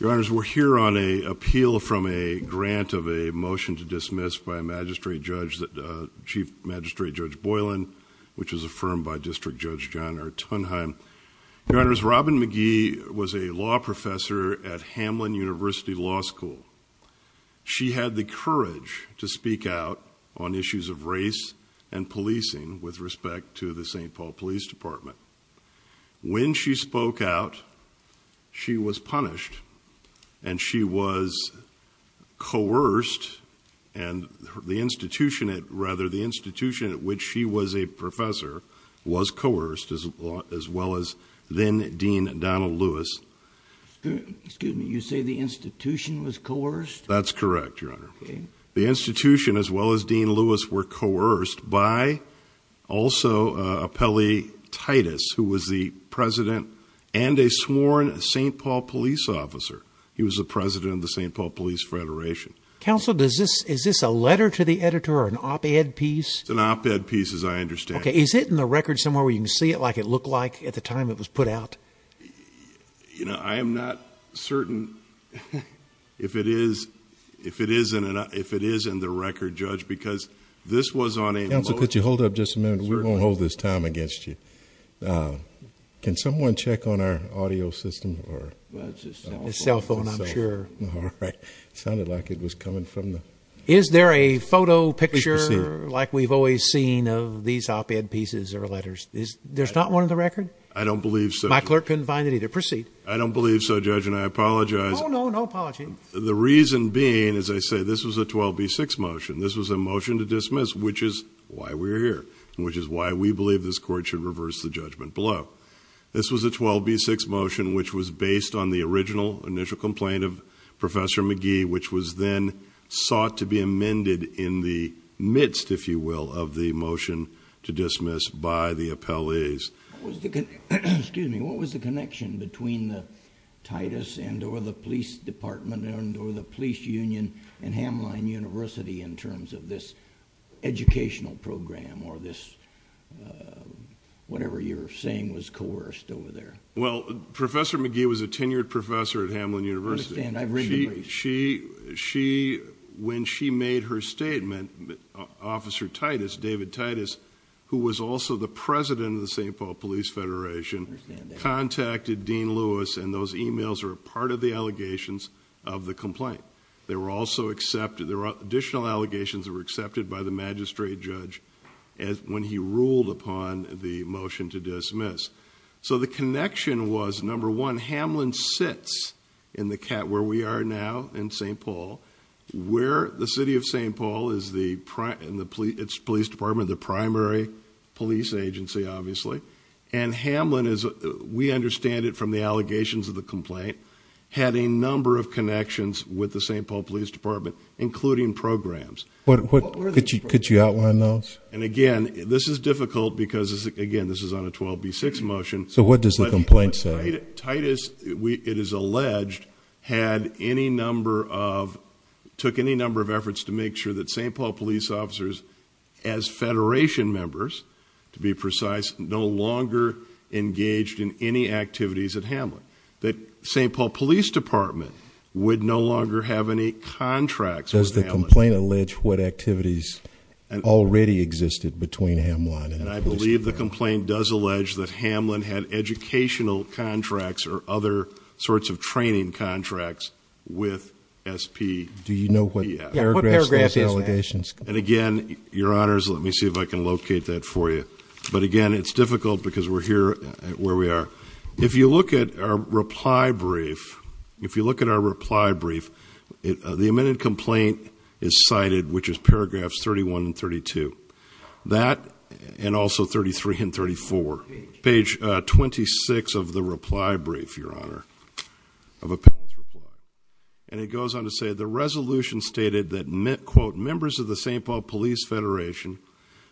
Your Honors, we're here on an appeal from a grant of a motion to dismiss by Chief Magistrate Judge Boylan, which was affirmed by District Judge John R. Tunheim. Your Honors, Robin Magee had the courage to speak out on issues of race and policing with respect to the St. Paul Police Department. When she spoke out, she was punished and she was coerced and the institution at which she was a professor was coerced as well as then-Dean Donald Lewis. Excuse me, you say the institution was coerced? That's correct, Your Honor. The institution as well as Dean Lewis were coerced by, also, Appellee Titus, who was the president and a sworn St. Paul Police officer. He was the president of the St. Paul Police Federation. Counsel, is this a letter to the editor or an op-ed piece? It's an op-ed piece, as I understand. Okay, is it in the record somewhere where you can it look like at the time it was put out? You know, I am not certain if it is in the record, Judge, because this was on a... Counsel, could you hold up just a minute? We won't hold this time against you. Can someone check on our audio system? It's a cell phone, I'm sure. It sounded like it was coming from the... Is there a photo, picture, like we've always seen, of these op-ed pieces or letters? There's not one in the record? I don't believe so. My clerk couldn't find it either. Proceed. I don't believe so, Judge, and I apologize. Oh, no, no apology. The reason being, as I say, this was a 12b6 motion. This was a motion to dismiss, which is why we're here, which is why we believe this Court should reverse the judgment below. This was a 12b6 motion, which was based on the original initial complaint of Professor McGee, which was then sought to be amended in the midst, if you will, of the motion to dismiss by the appellees. What was the connection between the TITUS and or the Police Department and or the Police Union and Hamline University in terms of this educational program or this whatever you're saying was coerced over there? Well, Professor McGee was a tenured professor at Hamline University. She, when she made her statement, Officer TITUS, David TITUS, who was also the president of the St. Paul Police Federation, contacted Dean Lewis, and those emails are a part of the allegations of the complaint. They were also accepted. There were additional allegations that were accepted by the magistrate judge when he ruled upon the Hamline sits in the cat, where we are now in St. Paul, where the city of St. Paul is the prime and the police, its police department, the primary police agency, obviously. And Hamline is, we understand it from the allegations of the complaint, had a number of connections with the St. Paul Police Department, including programs. What could you outline those? And again, this is difficult because again, this is on a 12b6 motion. So what does the complaint say? TITUS, it is alleged, had any number of, took any number of efforts to make sure that St. Paul police officers as federation members, to be precise, no longer engaged in any activities at Hamline. That St. Paul Police Department would no longer have any contracts. Does the complaint allege what activities already existed between Hamline? And I believe the complaint does allege that Hamline had educational contracts or other sorts of training contracts with SP. Do you know what paragraph? And again, your honors, let me see if I can locate that for you. But again, it's difficult because we're here where we are. If you look at our reply brief, if you look at our reply brief, the amended complaint is cited, which is paragraphs 31 and 32 that, and also 33 and 34 page 26 of the reply brief, your honor of appeals. And it goes on to say the resolution stated that meant quote, members of the St. Paul Police Federation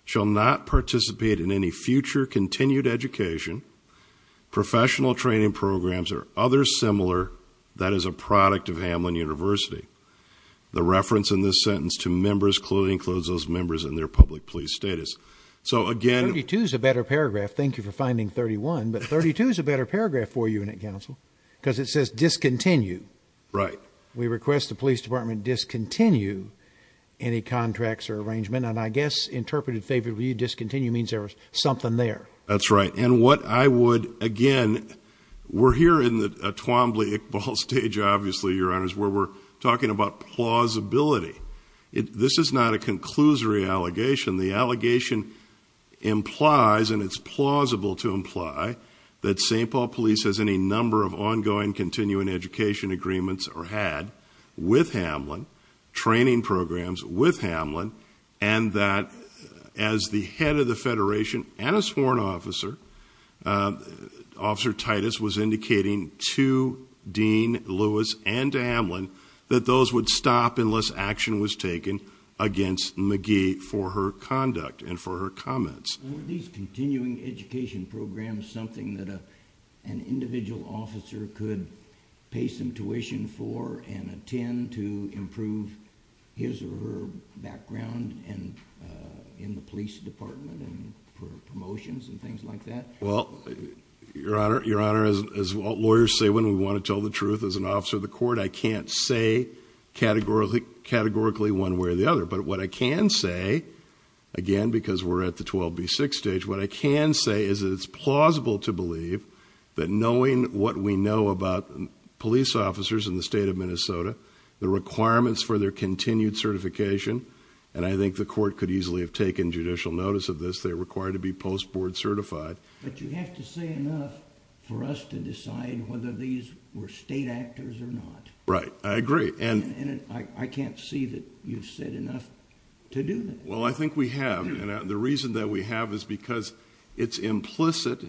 shall not participate in any future continued education, professional training programs or other similar. That is a product of Hamline university. The reference in this police status. So again, it is a better paragraph. Thank you for finding 31, but 32 is a better paragraph for you in a council because it says discontinued, right? We request the police department discontinue any contracts or arrangement. And I guess interpreted favorably discontinue means there was something there. That's right. And what I would again, we're here in the Twombly Iqbal stage, obviously your honors, where we're talking about plausibility. It, this is not a conclusory allegation. The allegation implies, and it's plausible to imply that St. Paul police has any number of ongoing continuing education agreements or had with Hamlin training programs with Hamlin. And that as the head of the federation and a sworn officer, uh, officer Titus was indicating to Dean Lewis and Hamlin that those would stop unless action was taken against McGee for her conduct and for her comments, these continuing education programs, something that, uh, an individual officer could pay some tuition for and attend to well, your honor, your honor, as lawyers say, when we want to tell the truth as an officer of the court, I can't say categorically categorically one way or the other, but what I can say again, because we're at the 12 B six stage, what I can say is that it's plausible to believe that knowing what we know about police officers in the state of Minnesota, the requirements for their continued certification. And I think the court could easily have taken judicial notice of this. They're post board certified, but you have to say enough for us to decide whether these were state actors or not. Right. I agree. And I can't see that you've said enough to do that. Well, I think we have. And the reason that we have is because it's implicit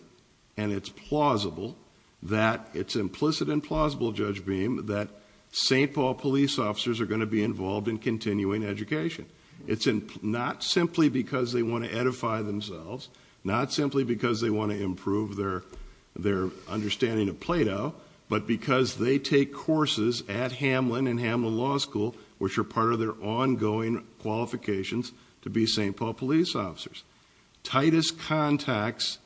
and it's plausible that it's implicit and plausible judge beam that St. Paul police officers are going to be involved in continuing education. It's not simply because they want to edify themselves, not simply because they want to improve their, their understanding of Plato, but because they take courses at Hamlin and Hamlin law school, which are part of their ongoing qualifications to be St. Paul police officers, Titus contacts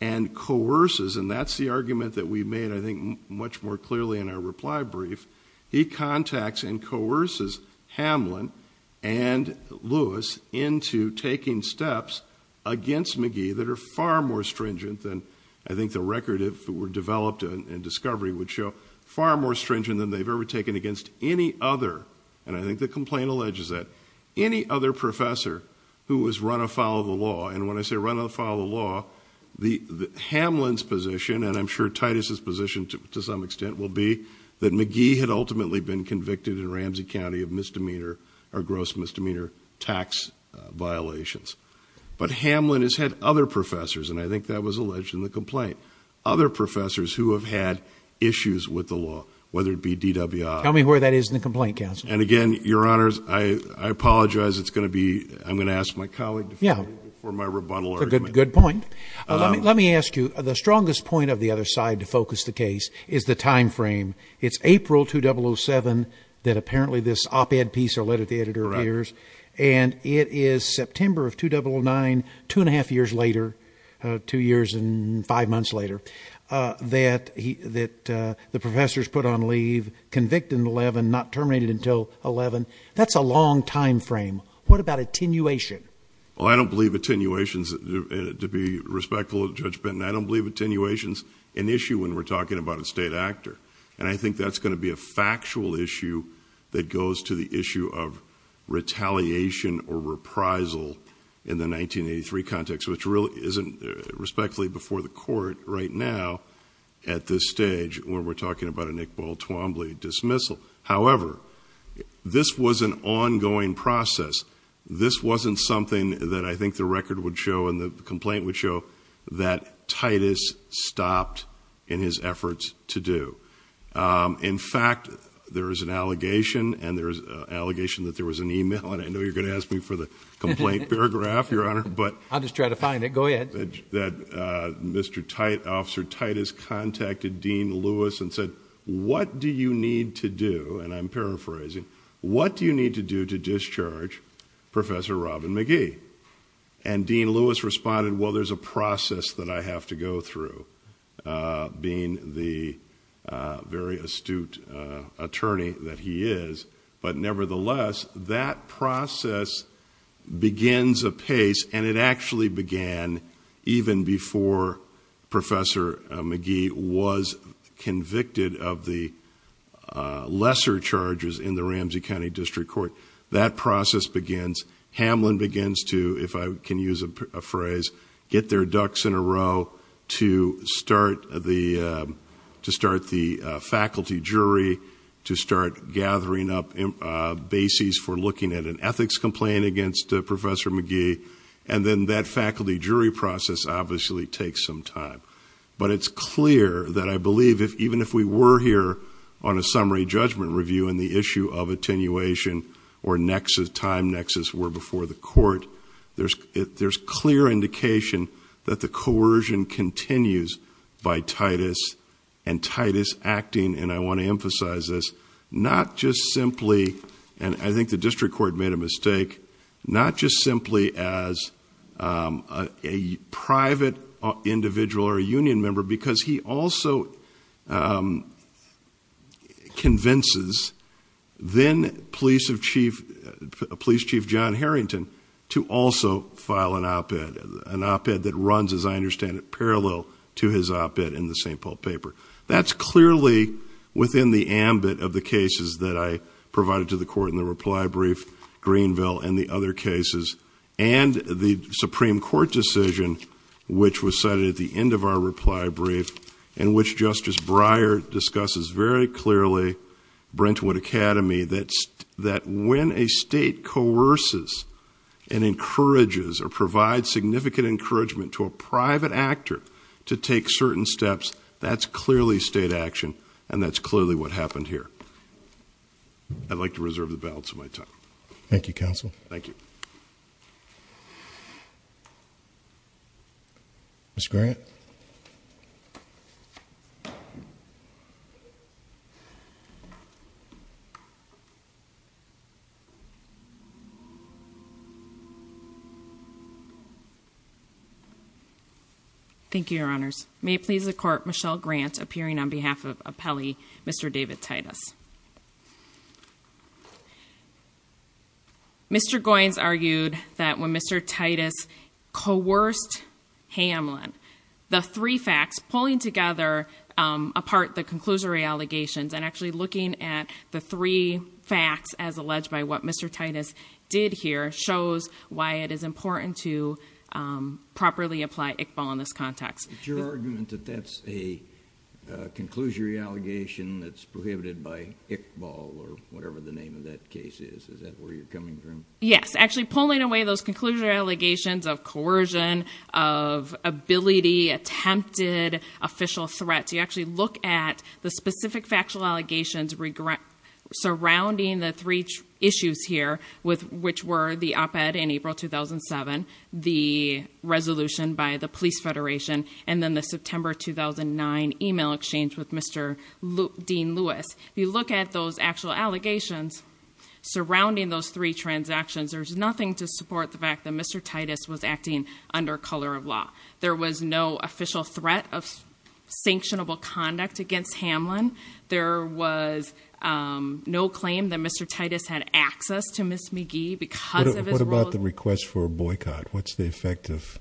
and coerces. And that's the argument that we made. I think much more clearly in our reply brief, he contacts and coerces Hamlin and Lewis into taking steps against McGee that are far more stringent than I think the record if it were developed in discovery would show far more stringent than they've ever taken against any other. And I think the complaint alleges that any other professor who was run a follow the law. And when I say run follow the law, the Hamlin's position, and I'm sure Titus's position to some extent will be that McGee had ultimately been convicted in Ramsey County of misdemeanor or gross misdemeanor tax violations. But Hamlin has had other professors. And I think that was alleged in the complaint, other professors who have had issues with the law, whether it be DWI. Tell me where that is in the complaint council. And again, your honors, I apologize. It's going to be, I'm going to ask my colleague for my rebuttal. Good, good point. Let me, let me ask you the strongest point of the other side to focus the case is the timeframe. It's April, 2007 that apparently this op-ed piece or letter the editor appears and it is September of 2009, two and a half years later, two years and five months later that he, that the professors put on leave convicted in 11, not terminated until 11. That's a long timeframe. What about attenuation? Well, I don't believe attenuation's to be respectful of judge Benton. I don't believe attenuation's an issue when we're talking about a state actor. And I think that's going to be a factual issue that goes to the issue of retaliation or reprisal in the 1983 context, which really isn't respectfully before the court right now at this stage, when we're talking about a Nick this was an ongoing process. This wasn't something that I think the record would show in the complaint would show that Titus stopped in his efforts to do. In fact, there is an allegation and there's a allegation that there was an email and I know you're going to ask me for the complaint paragraph, your honor, but I'll just try to find it. Go ahead. That Mr. Tite officer Titus contacted Dean Lewis and said, what do you need to do? And I'm paraphrasing. What do you need to do to discharge professor Robin McGee? And Dean Lewis responded, well, there's a process that I have to go through being the very astute attorney that he is. But nevertheless, that process begins a pace and it actually began even before professor McGee was convicted of the lesser charges in the Ramsey County district court. That process begins. Hamlin begins to, if I can use a phrase, get their ducks in a row to start the to start the faculty jury, to start gathering up bases for an ethics complaint against a professor McGee. And then that faculty jury process obviously takes some time, but it's clear that I believe if, even if we were here on a summary judgment review and the issue of attenuation or nexus time nexus were before the court, there's, there's clear indication that the coercion continues by Titus and Titus acting. And I believe that the district court made a mistake, not just simply as a private individual or a union member, because he also convinces then police of chief police chief, John Harrington to also file an op-ed, an op-ed that runs, as I understand it, parallel to his op-ed in the St. Paul paper. That's clearly within the ambit of the cases that I provided to the court in the reply brief, Greenville and the other cases and the Supreme Court decision, which was cited at the end of our reply brief and which Justice Breyer discusses very clearly, Brentwood Academy, that, that when a state coerces and encourages or provide significant encouragement to a private actor to take certain steps, that's clearly state action. And that's clearly what happened here. I'd like to reserve the balance of my time. Thank you, counsel. Thank you. Mr. Grant. Thank you, your honors. May it please the court, Michelle Grant appearing on behalf of appellee, Mr. David Titus. Mr. Goins argued that when Mr. Titus coerced Hamlin, the three facts pulling together apart the conclusory allegations and actually looking at the three facts as alleged by what Mr. Titus did here shows why it is important to properly apply Iqbal in this context. Your argument that that's a conclusory allegation that's prohibited by Iqbal or whatever the name of that case is, is that where you're coming from? Yes, actually pulling away those conclusory allegations of coercion, of ability, attempted official threats. You actually look at the specific factual allegations regret surrounding the three issues here with which were the op-ed in April, 2007, the resolution by the police federation, and then the September, 2009 email exchange with Mr. Dean Lewis. If you look at those actual allegations surrounding those three transactions, there's nothing to support the fact that Mr. Titus was acting under color of law. There was no official threat of sanctionable conduct against Hamlin. There was no claim that Titus had access to Ms. McGee because of his role. What about the request for a boycott? What's the effect of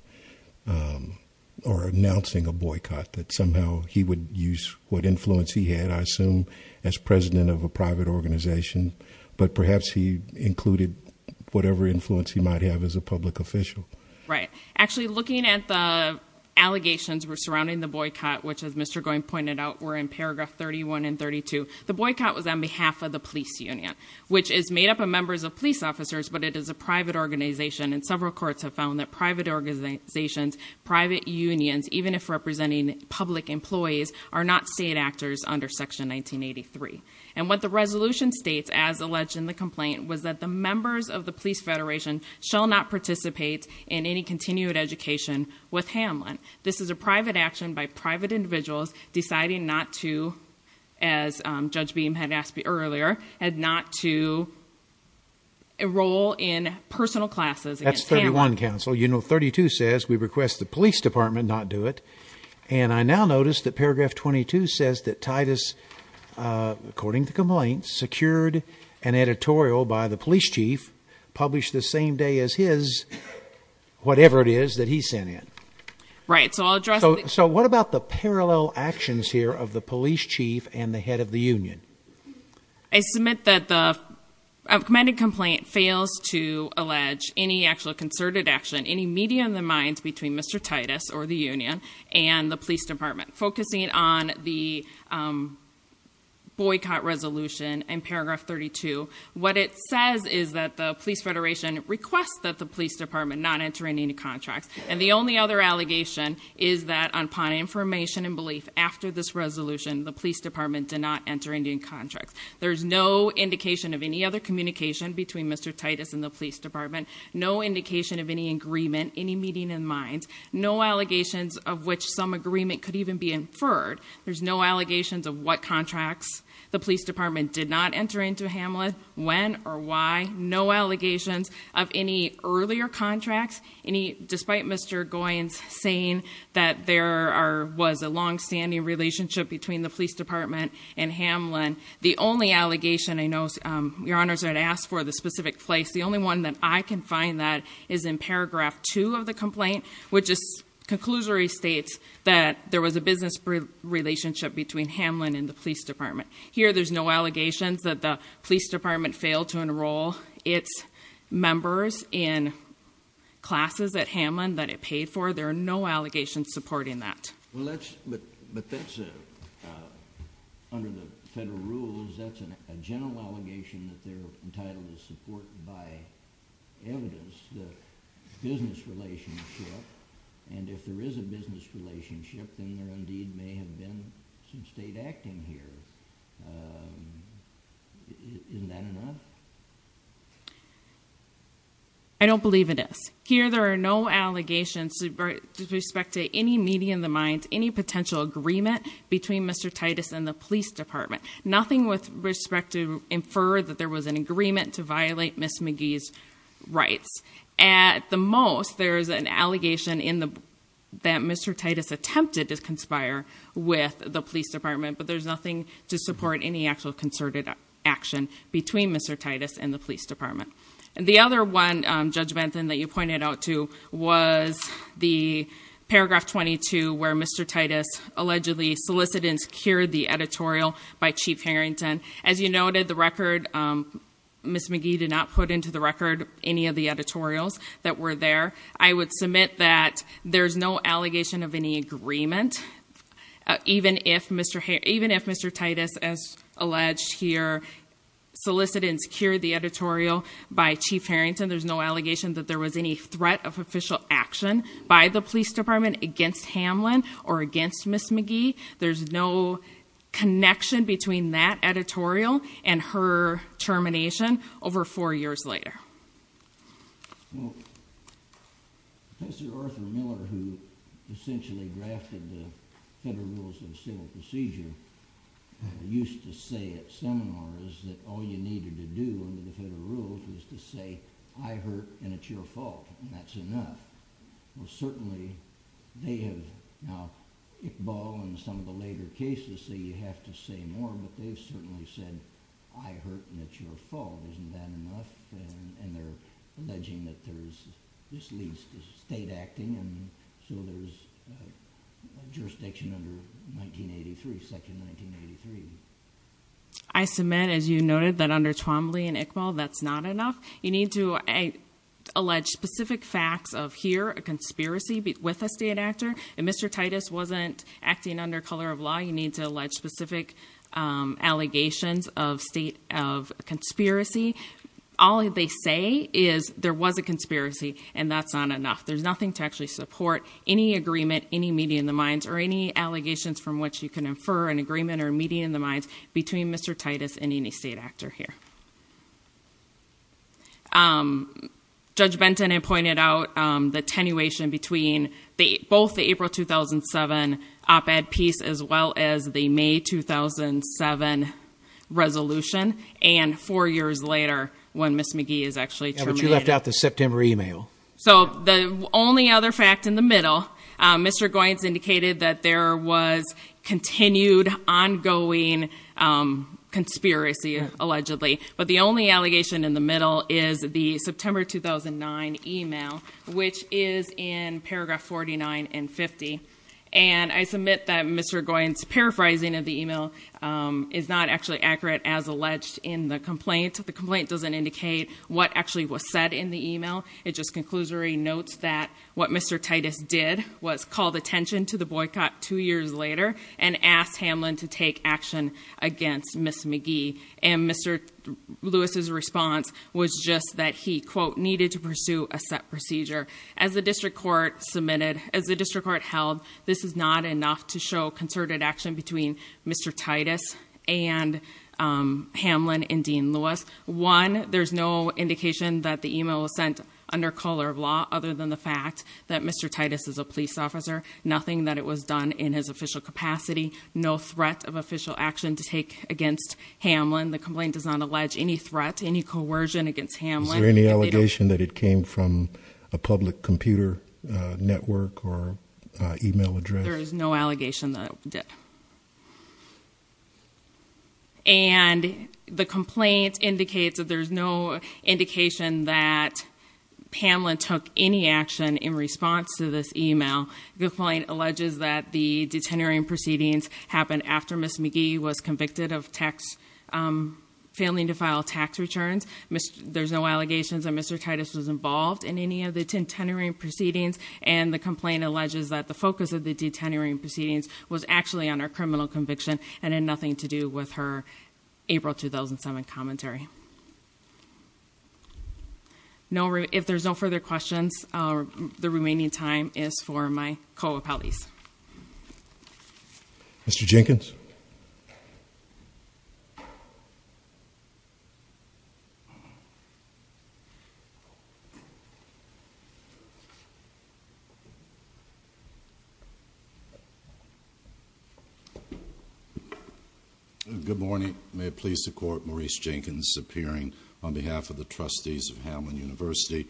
or announcing a boycott that somehow he would use what influence he had I assume as president of a private organization, but perhaps he included whatever influence he might have as a public official. Right, actually looking at the allegations were surrounding the boycott, which as Mr. Goying pointed out were in paragraph 31 and 32. The boycott was on behalf of the police union, which is made up of members of police officers, but it is a private organization and several courts have found that private organizations, private unions, even if representing public employees are not state actors under section 1983. And what the resolution states as alleged in the complaint was that the members of the police federation shall not participate in any continued education with Hamlin. This is a private action by private individuals deciding not to, as Judge Beam had asked me earlier, had not to enroll in personal classes. That's 31 counsel, you know, 32 says we request the police department not do it. And I now notice that paragraph 22 says that Titus, according to complaints secured an editorial by the police chief published the same day as his whatever it is that he sent in. Right, so I'll address. So what about the parallel actions here of the police chief and the head of the union? I submit that the amended complaint fails to allege any actual concerted action, any media in the minds between Mr. Titus or the union and the police department focusing on the boycott resolution and paragraph 32. What it says is that the police federation requests that the police department not entering into contracts. And the police department did not enter into contracts. There's no indication of any other communication between Mr. Titus and the police department, no indication of any agreement, any meeting in mind, no allegations of which some agreement could even be inferred. There's no allegations of what contracts the police department did not enter into Hamlet when or why no allegations of any earlier contracts, any despite Mr. Goins saying that there are was a longstanding relationship between the police department and Hamlin. The only allegation I know your honors had asked for the specific place. The only one that I can find that is in paragraph two of the complaint, which is conclusory states that there was a business relationship between Hamlin and the police department. Here, there's no allegations that the police department failed to enroll its members in classes at Hamlin that it paid for. There are no allegations supporting that. But that's under the federal rules. That's a general allegation that they're entitled to support by evidence, the business relationship. And if there is a business relationship, then there indeed may have been some state acting here. Isn't that enough? I don't believe it is here. There are no allegations to respect to any media in the minds, any potential agreement between Mr. Titus and the police department, nothing with respect to infer that there was an agreement to violate Miss McGee's rights. At the most, there is an allegation in the, that Mr. Titus attempted to conspire with the police department, but there's nothing to support any actual concerted action between Mr. Titus and the police department. And the other one, Judge Benton, that you pointed out to was the paragraph 22, where Mr. Titus allegedly solicited and secured the editorial by Chief Harrington. As you noted, the record Miss McGee did not put into the record the editorials that were there. I would submit that there's no allegation of any agreement. Even if Mr. Titus, as alleged here, solicited and secured the editorial by Chief Harrington, there's no allegation that there was any threat of official action by the police department against Hamlin or against Miss McGee. There's no connection between that editorial and her termination over four years later. Well, Professor Arthur Miller, who essentially drafted the Federal Rules of Civil Procedure, used to say at seminars that all you needed to do under the Federal Rules was to say, I hurt and it's your fault, and that's enough. Well, certainly, they have now, Iqbal and some of the later cases say you have to say more, but they've certainly said, I hurt and it's your fault, isn't that enough? And they're alleging that there's, this leads to state acting, and so there's jurisdiction under 1983, section 1983. I submit, as you noted, that under Twombly and Iqbal, that's not enough. You need to allege specific facts of here, a conspiracy with a state actor. If Mr. Titus wasn't acting under color of law, you need to allege specific allegations of conspiracy. All they say is there was a conspiracy and that's not enough. There's nothing to actually support any agreement, any meeting in the minds, or any allegations from which you can infer an agreement or meeting in the minds between Mr. Titus and any state actor here. Judge Benton had pointed out the attenuation between both the April 2007 op-ed piece as well as the May 2007 resolution, and four years later when Ms. McGee is actually terminated. Yeah, but you left out the September email. So the only other fact in the middle, Mr. Goins indicated that there was continued ongoing conspiracy, allegedly, but the only allegation in the middle is the September 2009 email, which is in paragraph 49 and 50. And I submit that Mr. Goins' paraphrasing of the email is not actually accurate as alleged in the complaint. The complaint doesn't indicate what actually was said in the email. It just conclusory notes that what Mr. Titus did was call attention to the boycott two years later and asked Hamlin to take action against Ms. McGee. And Mr. Lewis's response was just that he, quote, needed to pursue a set procedure. As the district court submitted, as the district court held, this is not enough to show concerted action between Mr. Titus and Hamlin and Dean Lewis. One, there's no indication that the email was sent under color of law other than the fact that Mr. Titus is a police officer, nothing that it was in his official capacity, no threat of official action to take against Hamlin. The complaint does not allege any threat, any coercion against Hamlin. Is there any allegation that it came from a public computer network or email address? There is no allegation that it did. And the complaint indicates that there's no indication that Hamlin took any action in response to this email. The complaint alleges that the detenuring proceedings happened after Ms. McGee was convicted of failing to file tax returns. There's no allegations that Mr. Titus was involved in any of the detenuring proceedings. And the complaint alleges that the focus of the detenuring proceedings was actually on her criminal conviction and had nothing to do with her remaining time as for my co-appellees. Mr. Jenkins. Good morning. May it please the court, Maurice Jenkins appearing on behalf of the trustees of the board of trustees.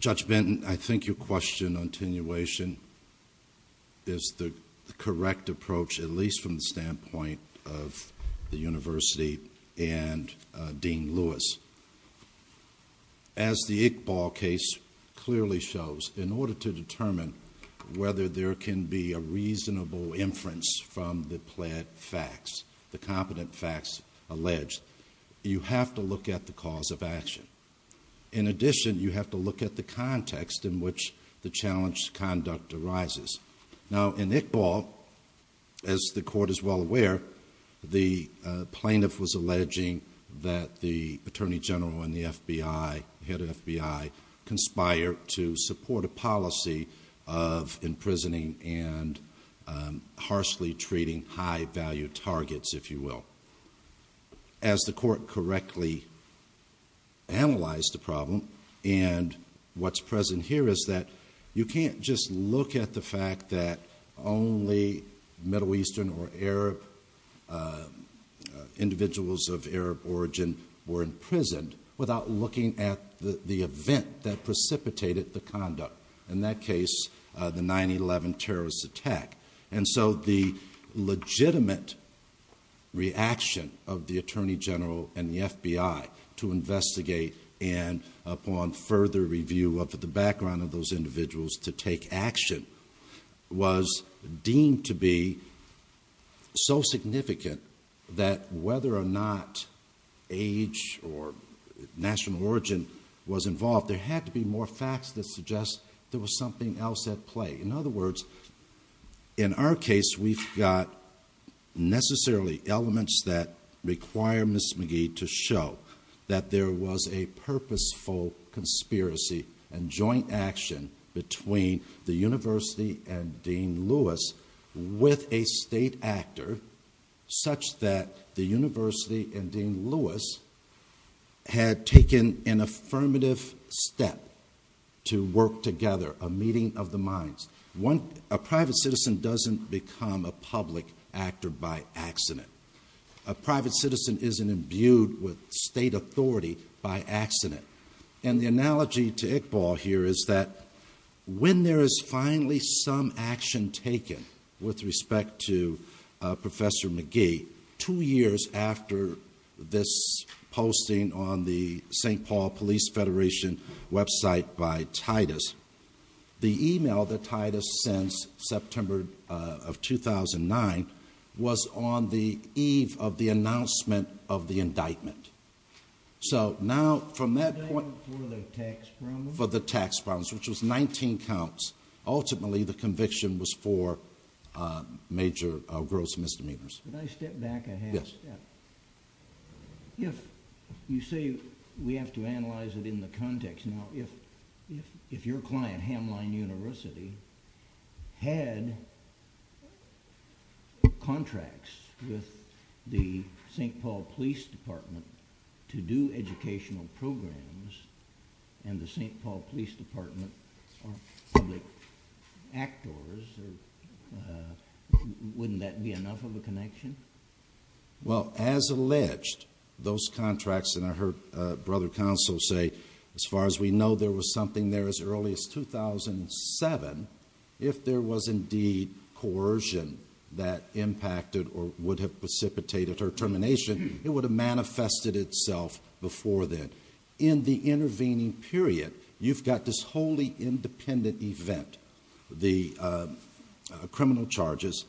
Judge Benton, I think your question on attenuation is the correct approach, at least from the standpoint of the university and Dean Lewis. As the Iqbal case clearly shows, in order to determine whether there can be a reasonable inference from the competent facts alleged, you have to look at the cause of action. In addition, you have to look at the context in which the challenged conduct arises. Now, in Iqbal, as the court is well aware, the plaintiff was alleging that the attorney general and the FBI, head FBI, conspired to support a policy of imprisoning and harshly treating high-value targets, if you will. As the court correctly analyzed the problem, and what's present here is that you can't just look at the fact that only Middle Eastern or Arab individuals of Arab origin were imprisoned without looking at the event that precipitated the conduct. In that case, the 9-11 terrorist attack. The legitimate reaction of the attorney general and the FBI to investigate and upon further review of the background of those individuals to take action was deemed to be so significant that whether or not age or national origin was involved, there had to be more facts that suggest there was something else at play. In other words, in our case, we've got necessarily elements that require Ms. Magee to show that there was a Dean Lewis with a state actor such that the University and Dean Lewis had taken an affirmative step to work together, a meeting of the minds. A private citizen doesn't become a public actor by accident. A private citizen isn't imbued with state authority by accident. The analogy to Iqbal here is that when there is finally some action taken with respect to Professor Magee, two years after this posting on the St. Paul Police Federation website by Titus, the email that Titus sends September of 2009 was on the eve of the announcement of the indictment. So now, from that point, for the tax problems, which was 19 counts, ultimately the conviction was for major gross misdemeanors. Can I step back a half step? Yes. If you say we have to analyze it in the context, now if your client, Hamline University, had contracts with the St. Paul Police Department to do educational programs and the St. Paul Police Department are public actors, wouldn't that be enough of a connection? Well, as alleged, those contracts, and I heard Brother Counsel say, as far as we know, there was something there as early as 2007. If there was indeed coercion that impacted or would have precipitated her termination, it would have manifested itself before then. In the intervening period, you've got this wholly independent event, the criminal charges,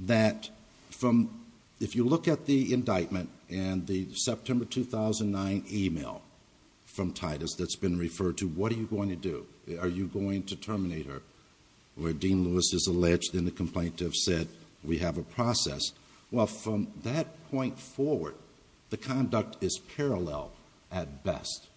that from, if you look at the indictment and the September 2009 email from Titus that's been referred to, what are you going to do? Are you going to terminate her? Where Dean Lewis is alleged in the complaint to have said, we have a process. Well, from that point forward, the conduct is parallel at best.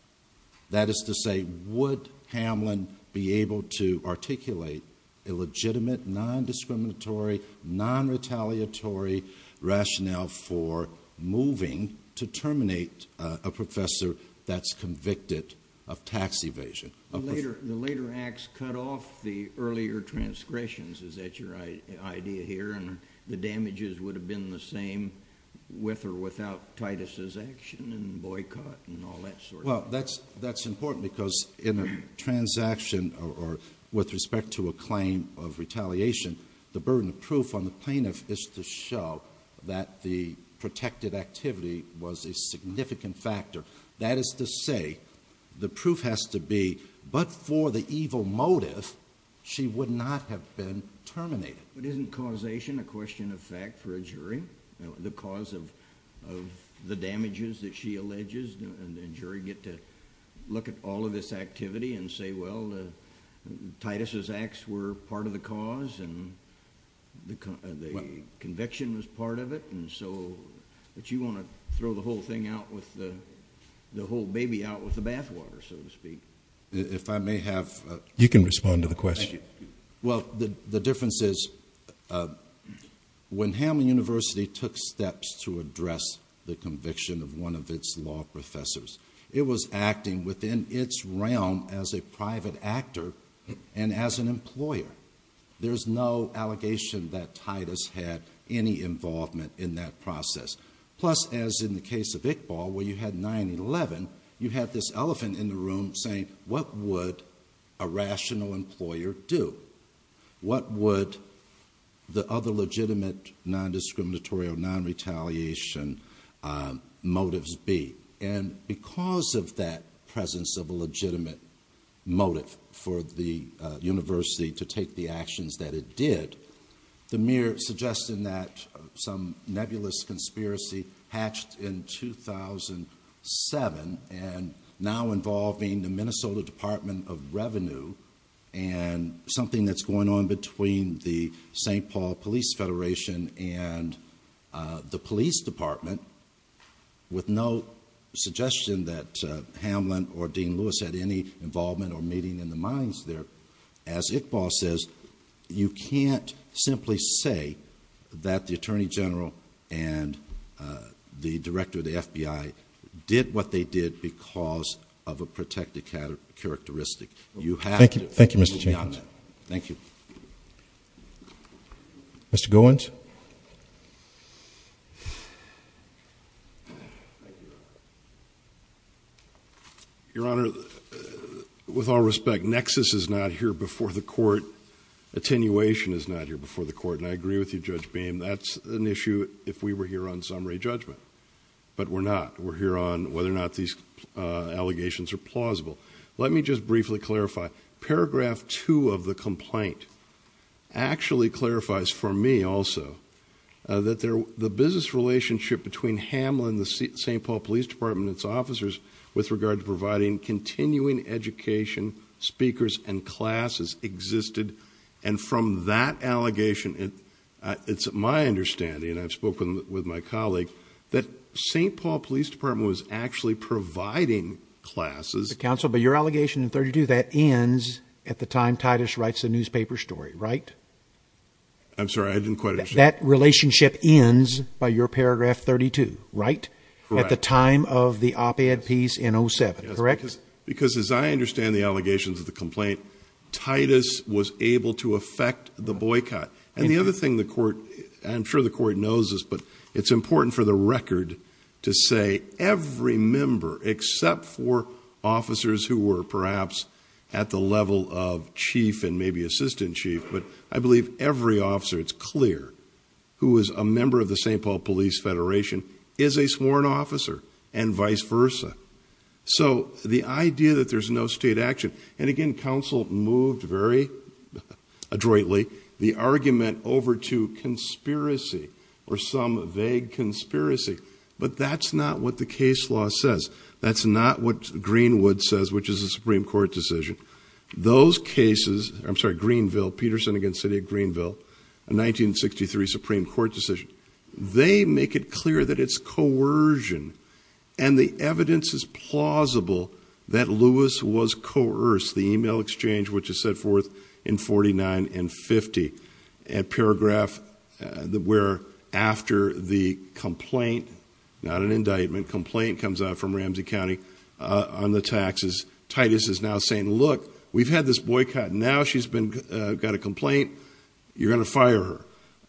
That is to say, would Hamline be able to articulate a legitimate, non-discriminatory, non-retaliatory rationale for moving to terminate a professor that's convicted of tax evasion? The later acts cut off the earlier transgressions, is that your idea here? And the damages would have been the same with or without Titus's action and boycott and all that sort of thing? Well, that's important because in a transaction or with respect to a claim of the plaintiff is to show that the protected activity was a significant factor. That is to say, the proof has to be, but for the evil motive, she would not have been terminated. But isn't causation a question of fact for a jury? The cause of the damages that she alleges, and the jury get to look at all of this activity and say, well, Titus's acts were part of the cause and the conviction was part of it. And so, but you want to throw the whole thing out with the whole baby out with the bathwater, so to speak. If I may have... You can respond to the question. Well, the difference is when Hamline University took steps to address the conviction of one of its law professors, it was acting within its realm as a private actor and as an employer. There's no allegation that Titus had any involvement in that process. Plus, as in the case of Iqbal, where you had 9-11, you had this elephant in the room saying, what would a rational employer do? What would the other legitimate non-discriminatory or non-retaliation motives be? And because of that presence of a legitimate motive for the university to take the actions that it did, the mere suggestion that some nebulous conspiracy hatched in 2007 and now involving the Minnesota Department of Revenue and something that's going on between the St. Louis Police Department, with no suggestion that Hamline or Dean Lewis had any involvement or meeting in the minds there, as Iqbal says, you can't simply say that the Attorney General and the Director of the FBI did what they did because of a protected characteristic. You have to... Thank you, Mr. Jenkins. Thank you. Mr. Goins? Thank you, Your Honor. Your Honor, with all respect, nexus is not here before the court. Attenuation is not here before the court. And I agree with you, Judge Beam, that's an issue if we were here on summary judgment. But we're not. We're here on whether or not these allegations are plausible. Let me just briefly clarify. Paragraph 2 of the complaint actually clarifies for me also that the business relationship between Hamline, the St. Paul Police Department, and its officers with regard to providing continuing education, speakers, and classes existed. And from that allegation, it's my understanding, and I've spoken with my colleague, that St. Paul Police Department was actually providing classes... Counsel, but your allegation in 32, that ends at the time Titus writes the newspaper story, right? I'm sorry, I didn't quite understand. That relationship ends by your paragraph 32, right? Correct. At the time of the op-ed piece in 07, correct? Because as I understand the allegations of the complaint, Titus was able to affect the boycott. And the other thing the court, I'm sure the court knows this, but it's important for the record to say every member, except for officers who were perhaps at the level of chief and maybe assistant chief, but I believe every officer, it's clear, who is a member of the St. Paul Police Federation is a sworn officer and vice versa. So the idea that there's no state action, and again, counsel moved very adroitly the argument over to conspiracy or some vague conspiracy, but that's not what the case law says. That's not what Greenwood says, which is a Supreme Court decision. Those cases, I'm sorry, Greenville, Peterson against city of Greenville, a 1963 Supreme Court decision. They make it clear that it's coercion. And the evidence is plausible that Lewis was coerced. The email exchange, which is set forth in 49 and 50, a paragraph where after the complaint, not an indictment, complaint comes out from Ramsey County on the taxes. Titus is now saying, look, we've had this boycott. Now she's got a complaint. You're going to fire her.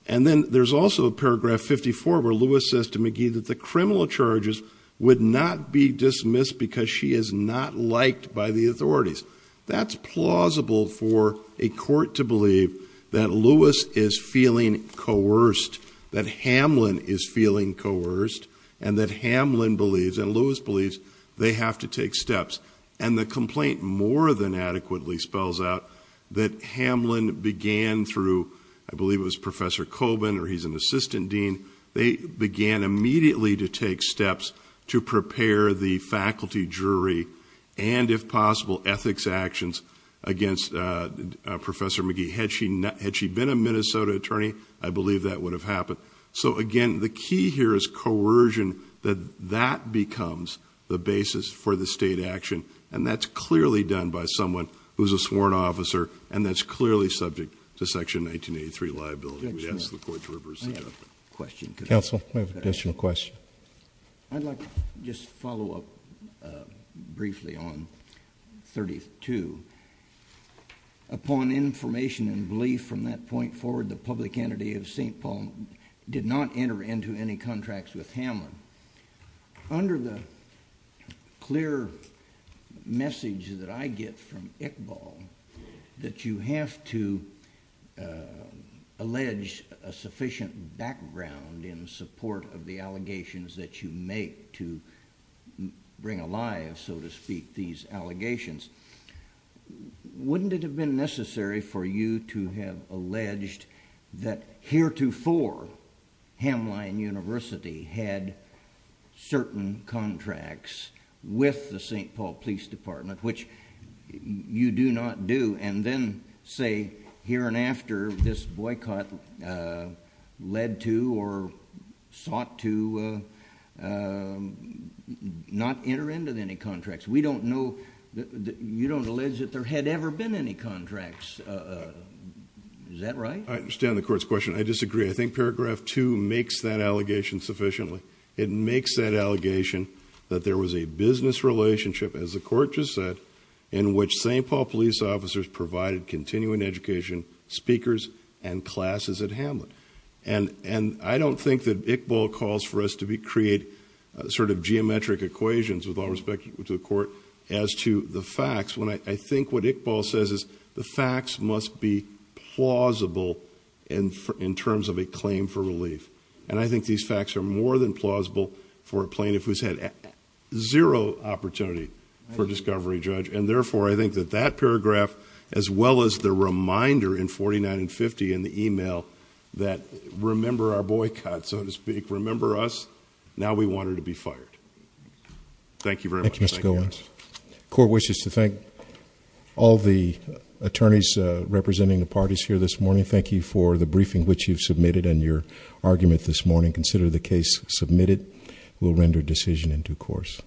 And then there's also a paragraph 54 where Lewis says to McGee that the criminal charges would not be dismissed because she is not liked by the authorities. That's plausible for a court to believe that Lewis is feeling coerced, that Hamlin is feeling coerced, and that Hamlin believes and Lewis believes they have to take steps. And the complaint more than adequately spells out that Hamlin began through, I believe it was Professor Colbin or he's an assistant dean. They began immediately to take steps to prepare the faculty jury and if possible ethics actions against Professor McGee. Had she been a Minnesota attorney, I believe that would have happened. So again, the key here is coercion, that that becomes the basis for the state action. And that's clearly done by someone who's a sworn officer. And that's clearly subject to section 1983 liability. We ask the court to reverse the judgment. I have a question. Counsel, we have an additional question. I'd like to just follow up briefly on 32. Upon information and belief from that point forward, the public entity of St. Paul did not enter into any contracts with Hamlin. Under the clear message that I get from Iqbal, that you have to allege a sufficient background in support of the allegations that you make to bring alive, so to speak, these allegations. Wouldn't it have been necessary for you to have alleged that heretofore Hamline University had certain contracts with the St. Paul Police Department, which you do not do, and then say here and after this boycott led to or sought to not enter into any contracts? We don't know. You don't allege that there had ever been any contracts. Is that right? I understand the court's question. I disagree. I think paragraph two makes that allegation sufficiently. It makes that allegation that there was a business relationship, as the court just said, in which St. Paul police officers provided continuing education, speakers, and classes at Hamlin. And I don't think that Iqbal calls for us to create sort of geometric equations with to the court as to the facts. I think what Iqbal says is the facts must be plausible in terms of a claim for relief. And I think these facts are more than plausible for a plaintiff who's had zero opportunity for discovery, Judge. And therefore, I think that that paragraph, as well as the reminder in 49 and 50 in the email that remember our boycott, so to speak, remember us, now we want her to be fired. Thank you very much. Thank you, Mr. Goins. Court wishes to thank all the attorneys representing the parties here this morning. Thank you for the briefing which you've submitted and your argument this morning. Consider the case submitted. We'll render decision in due course.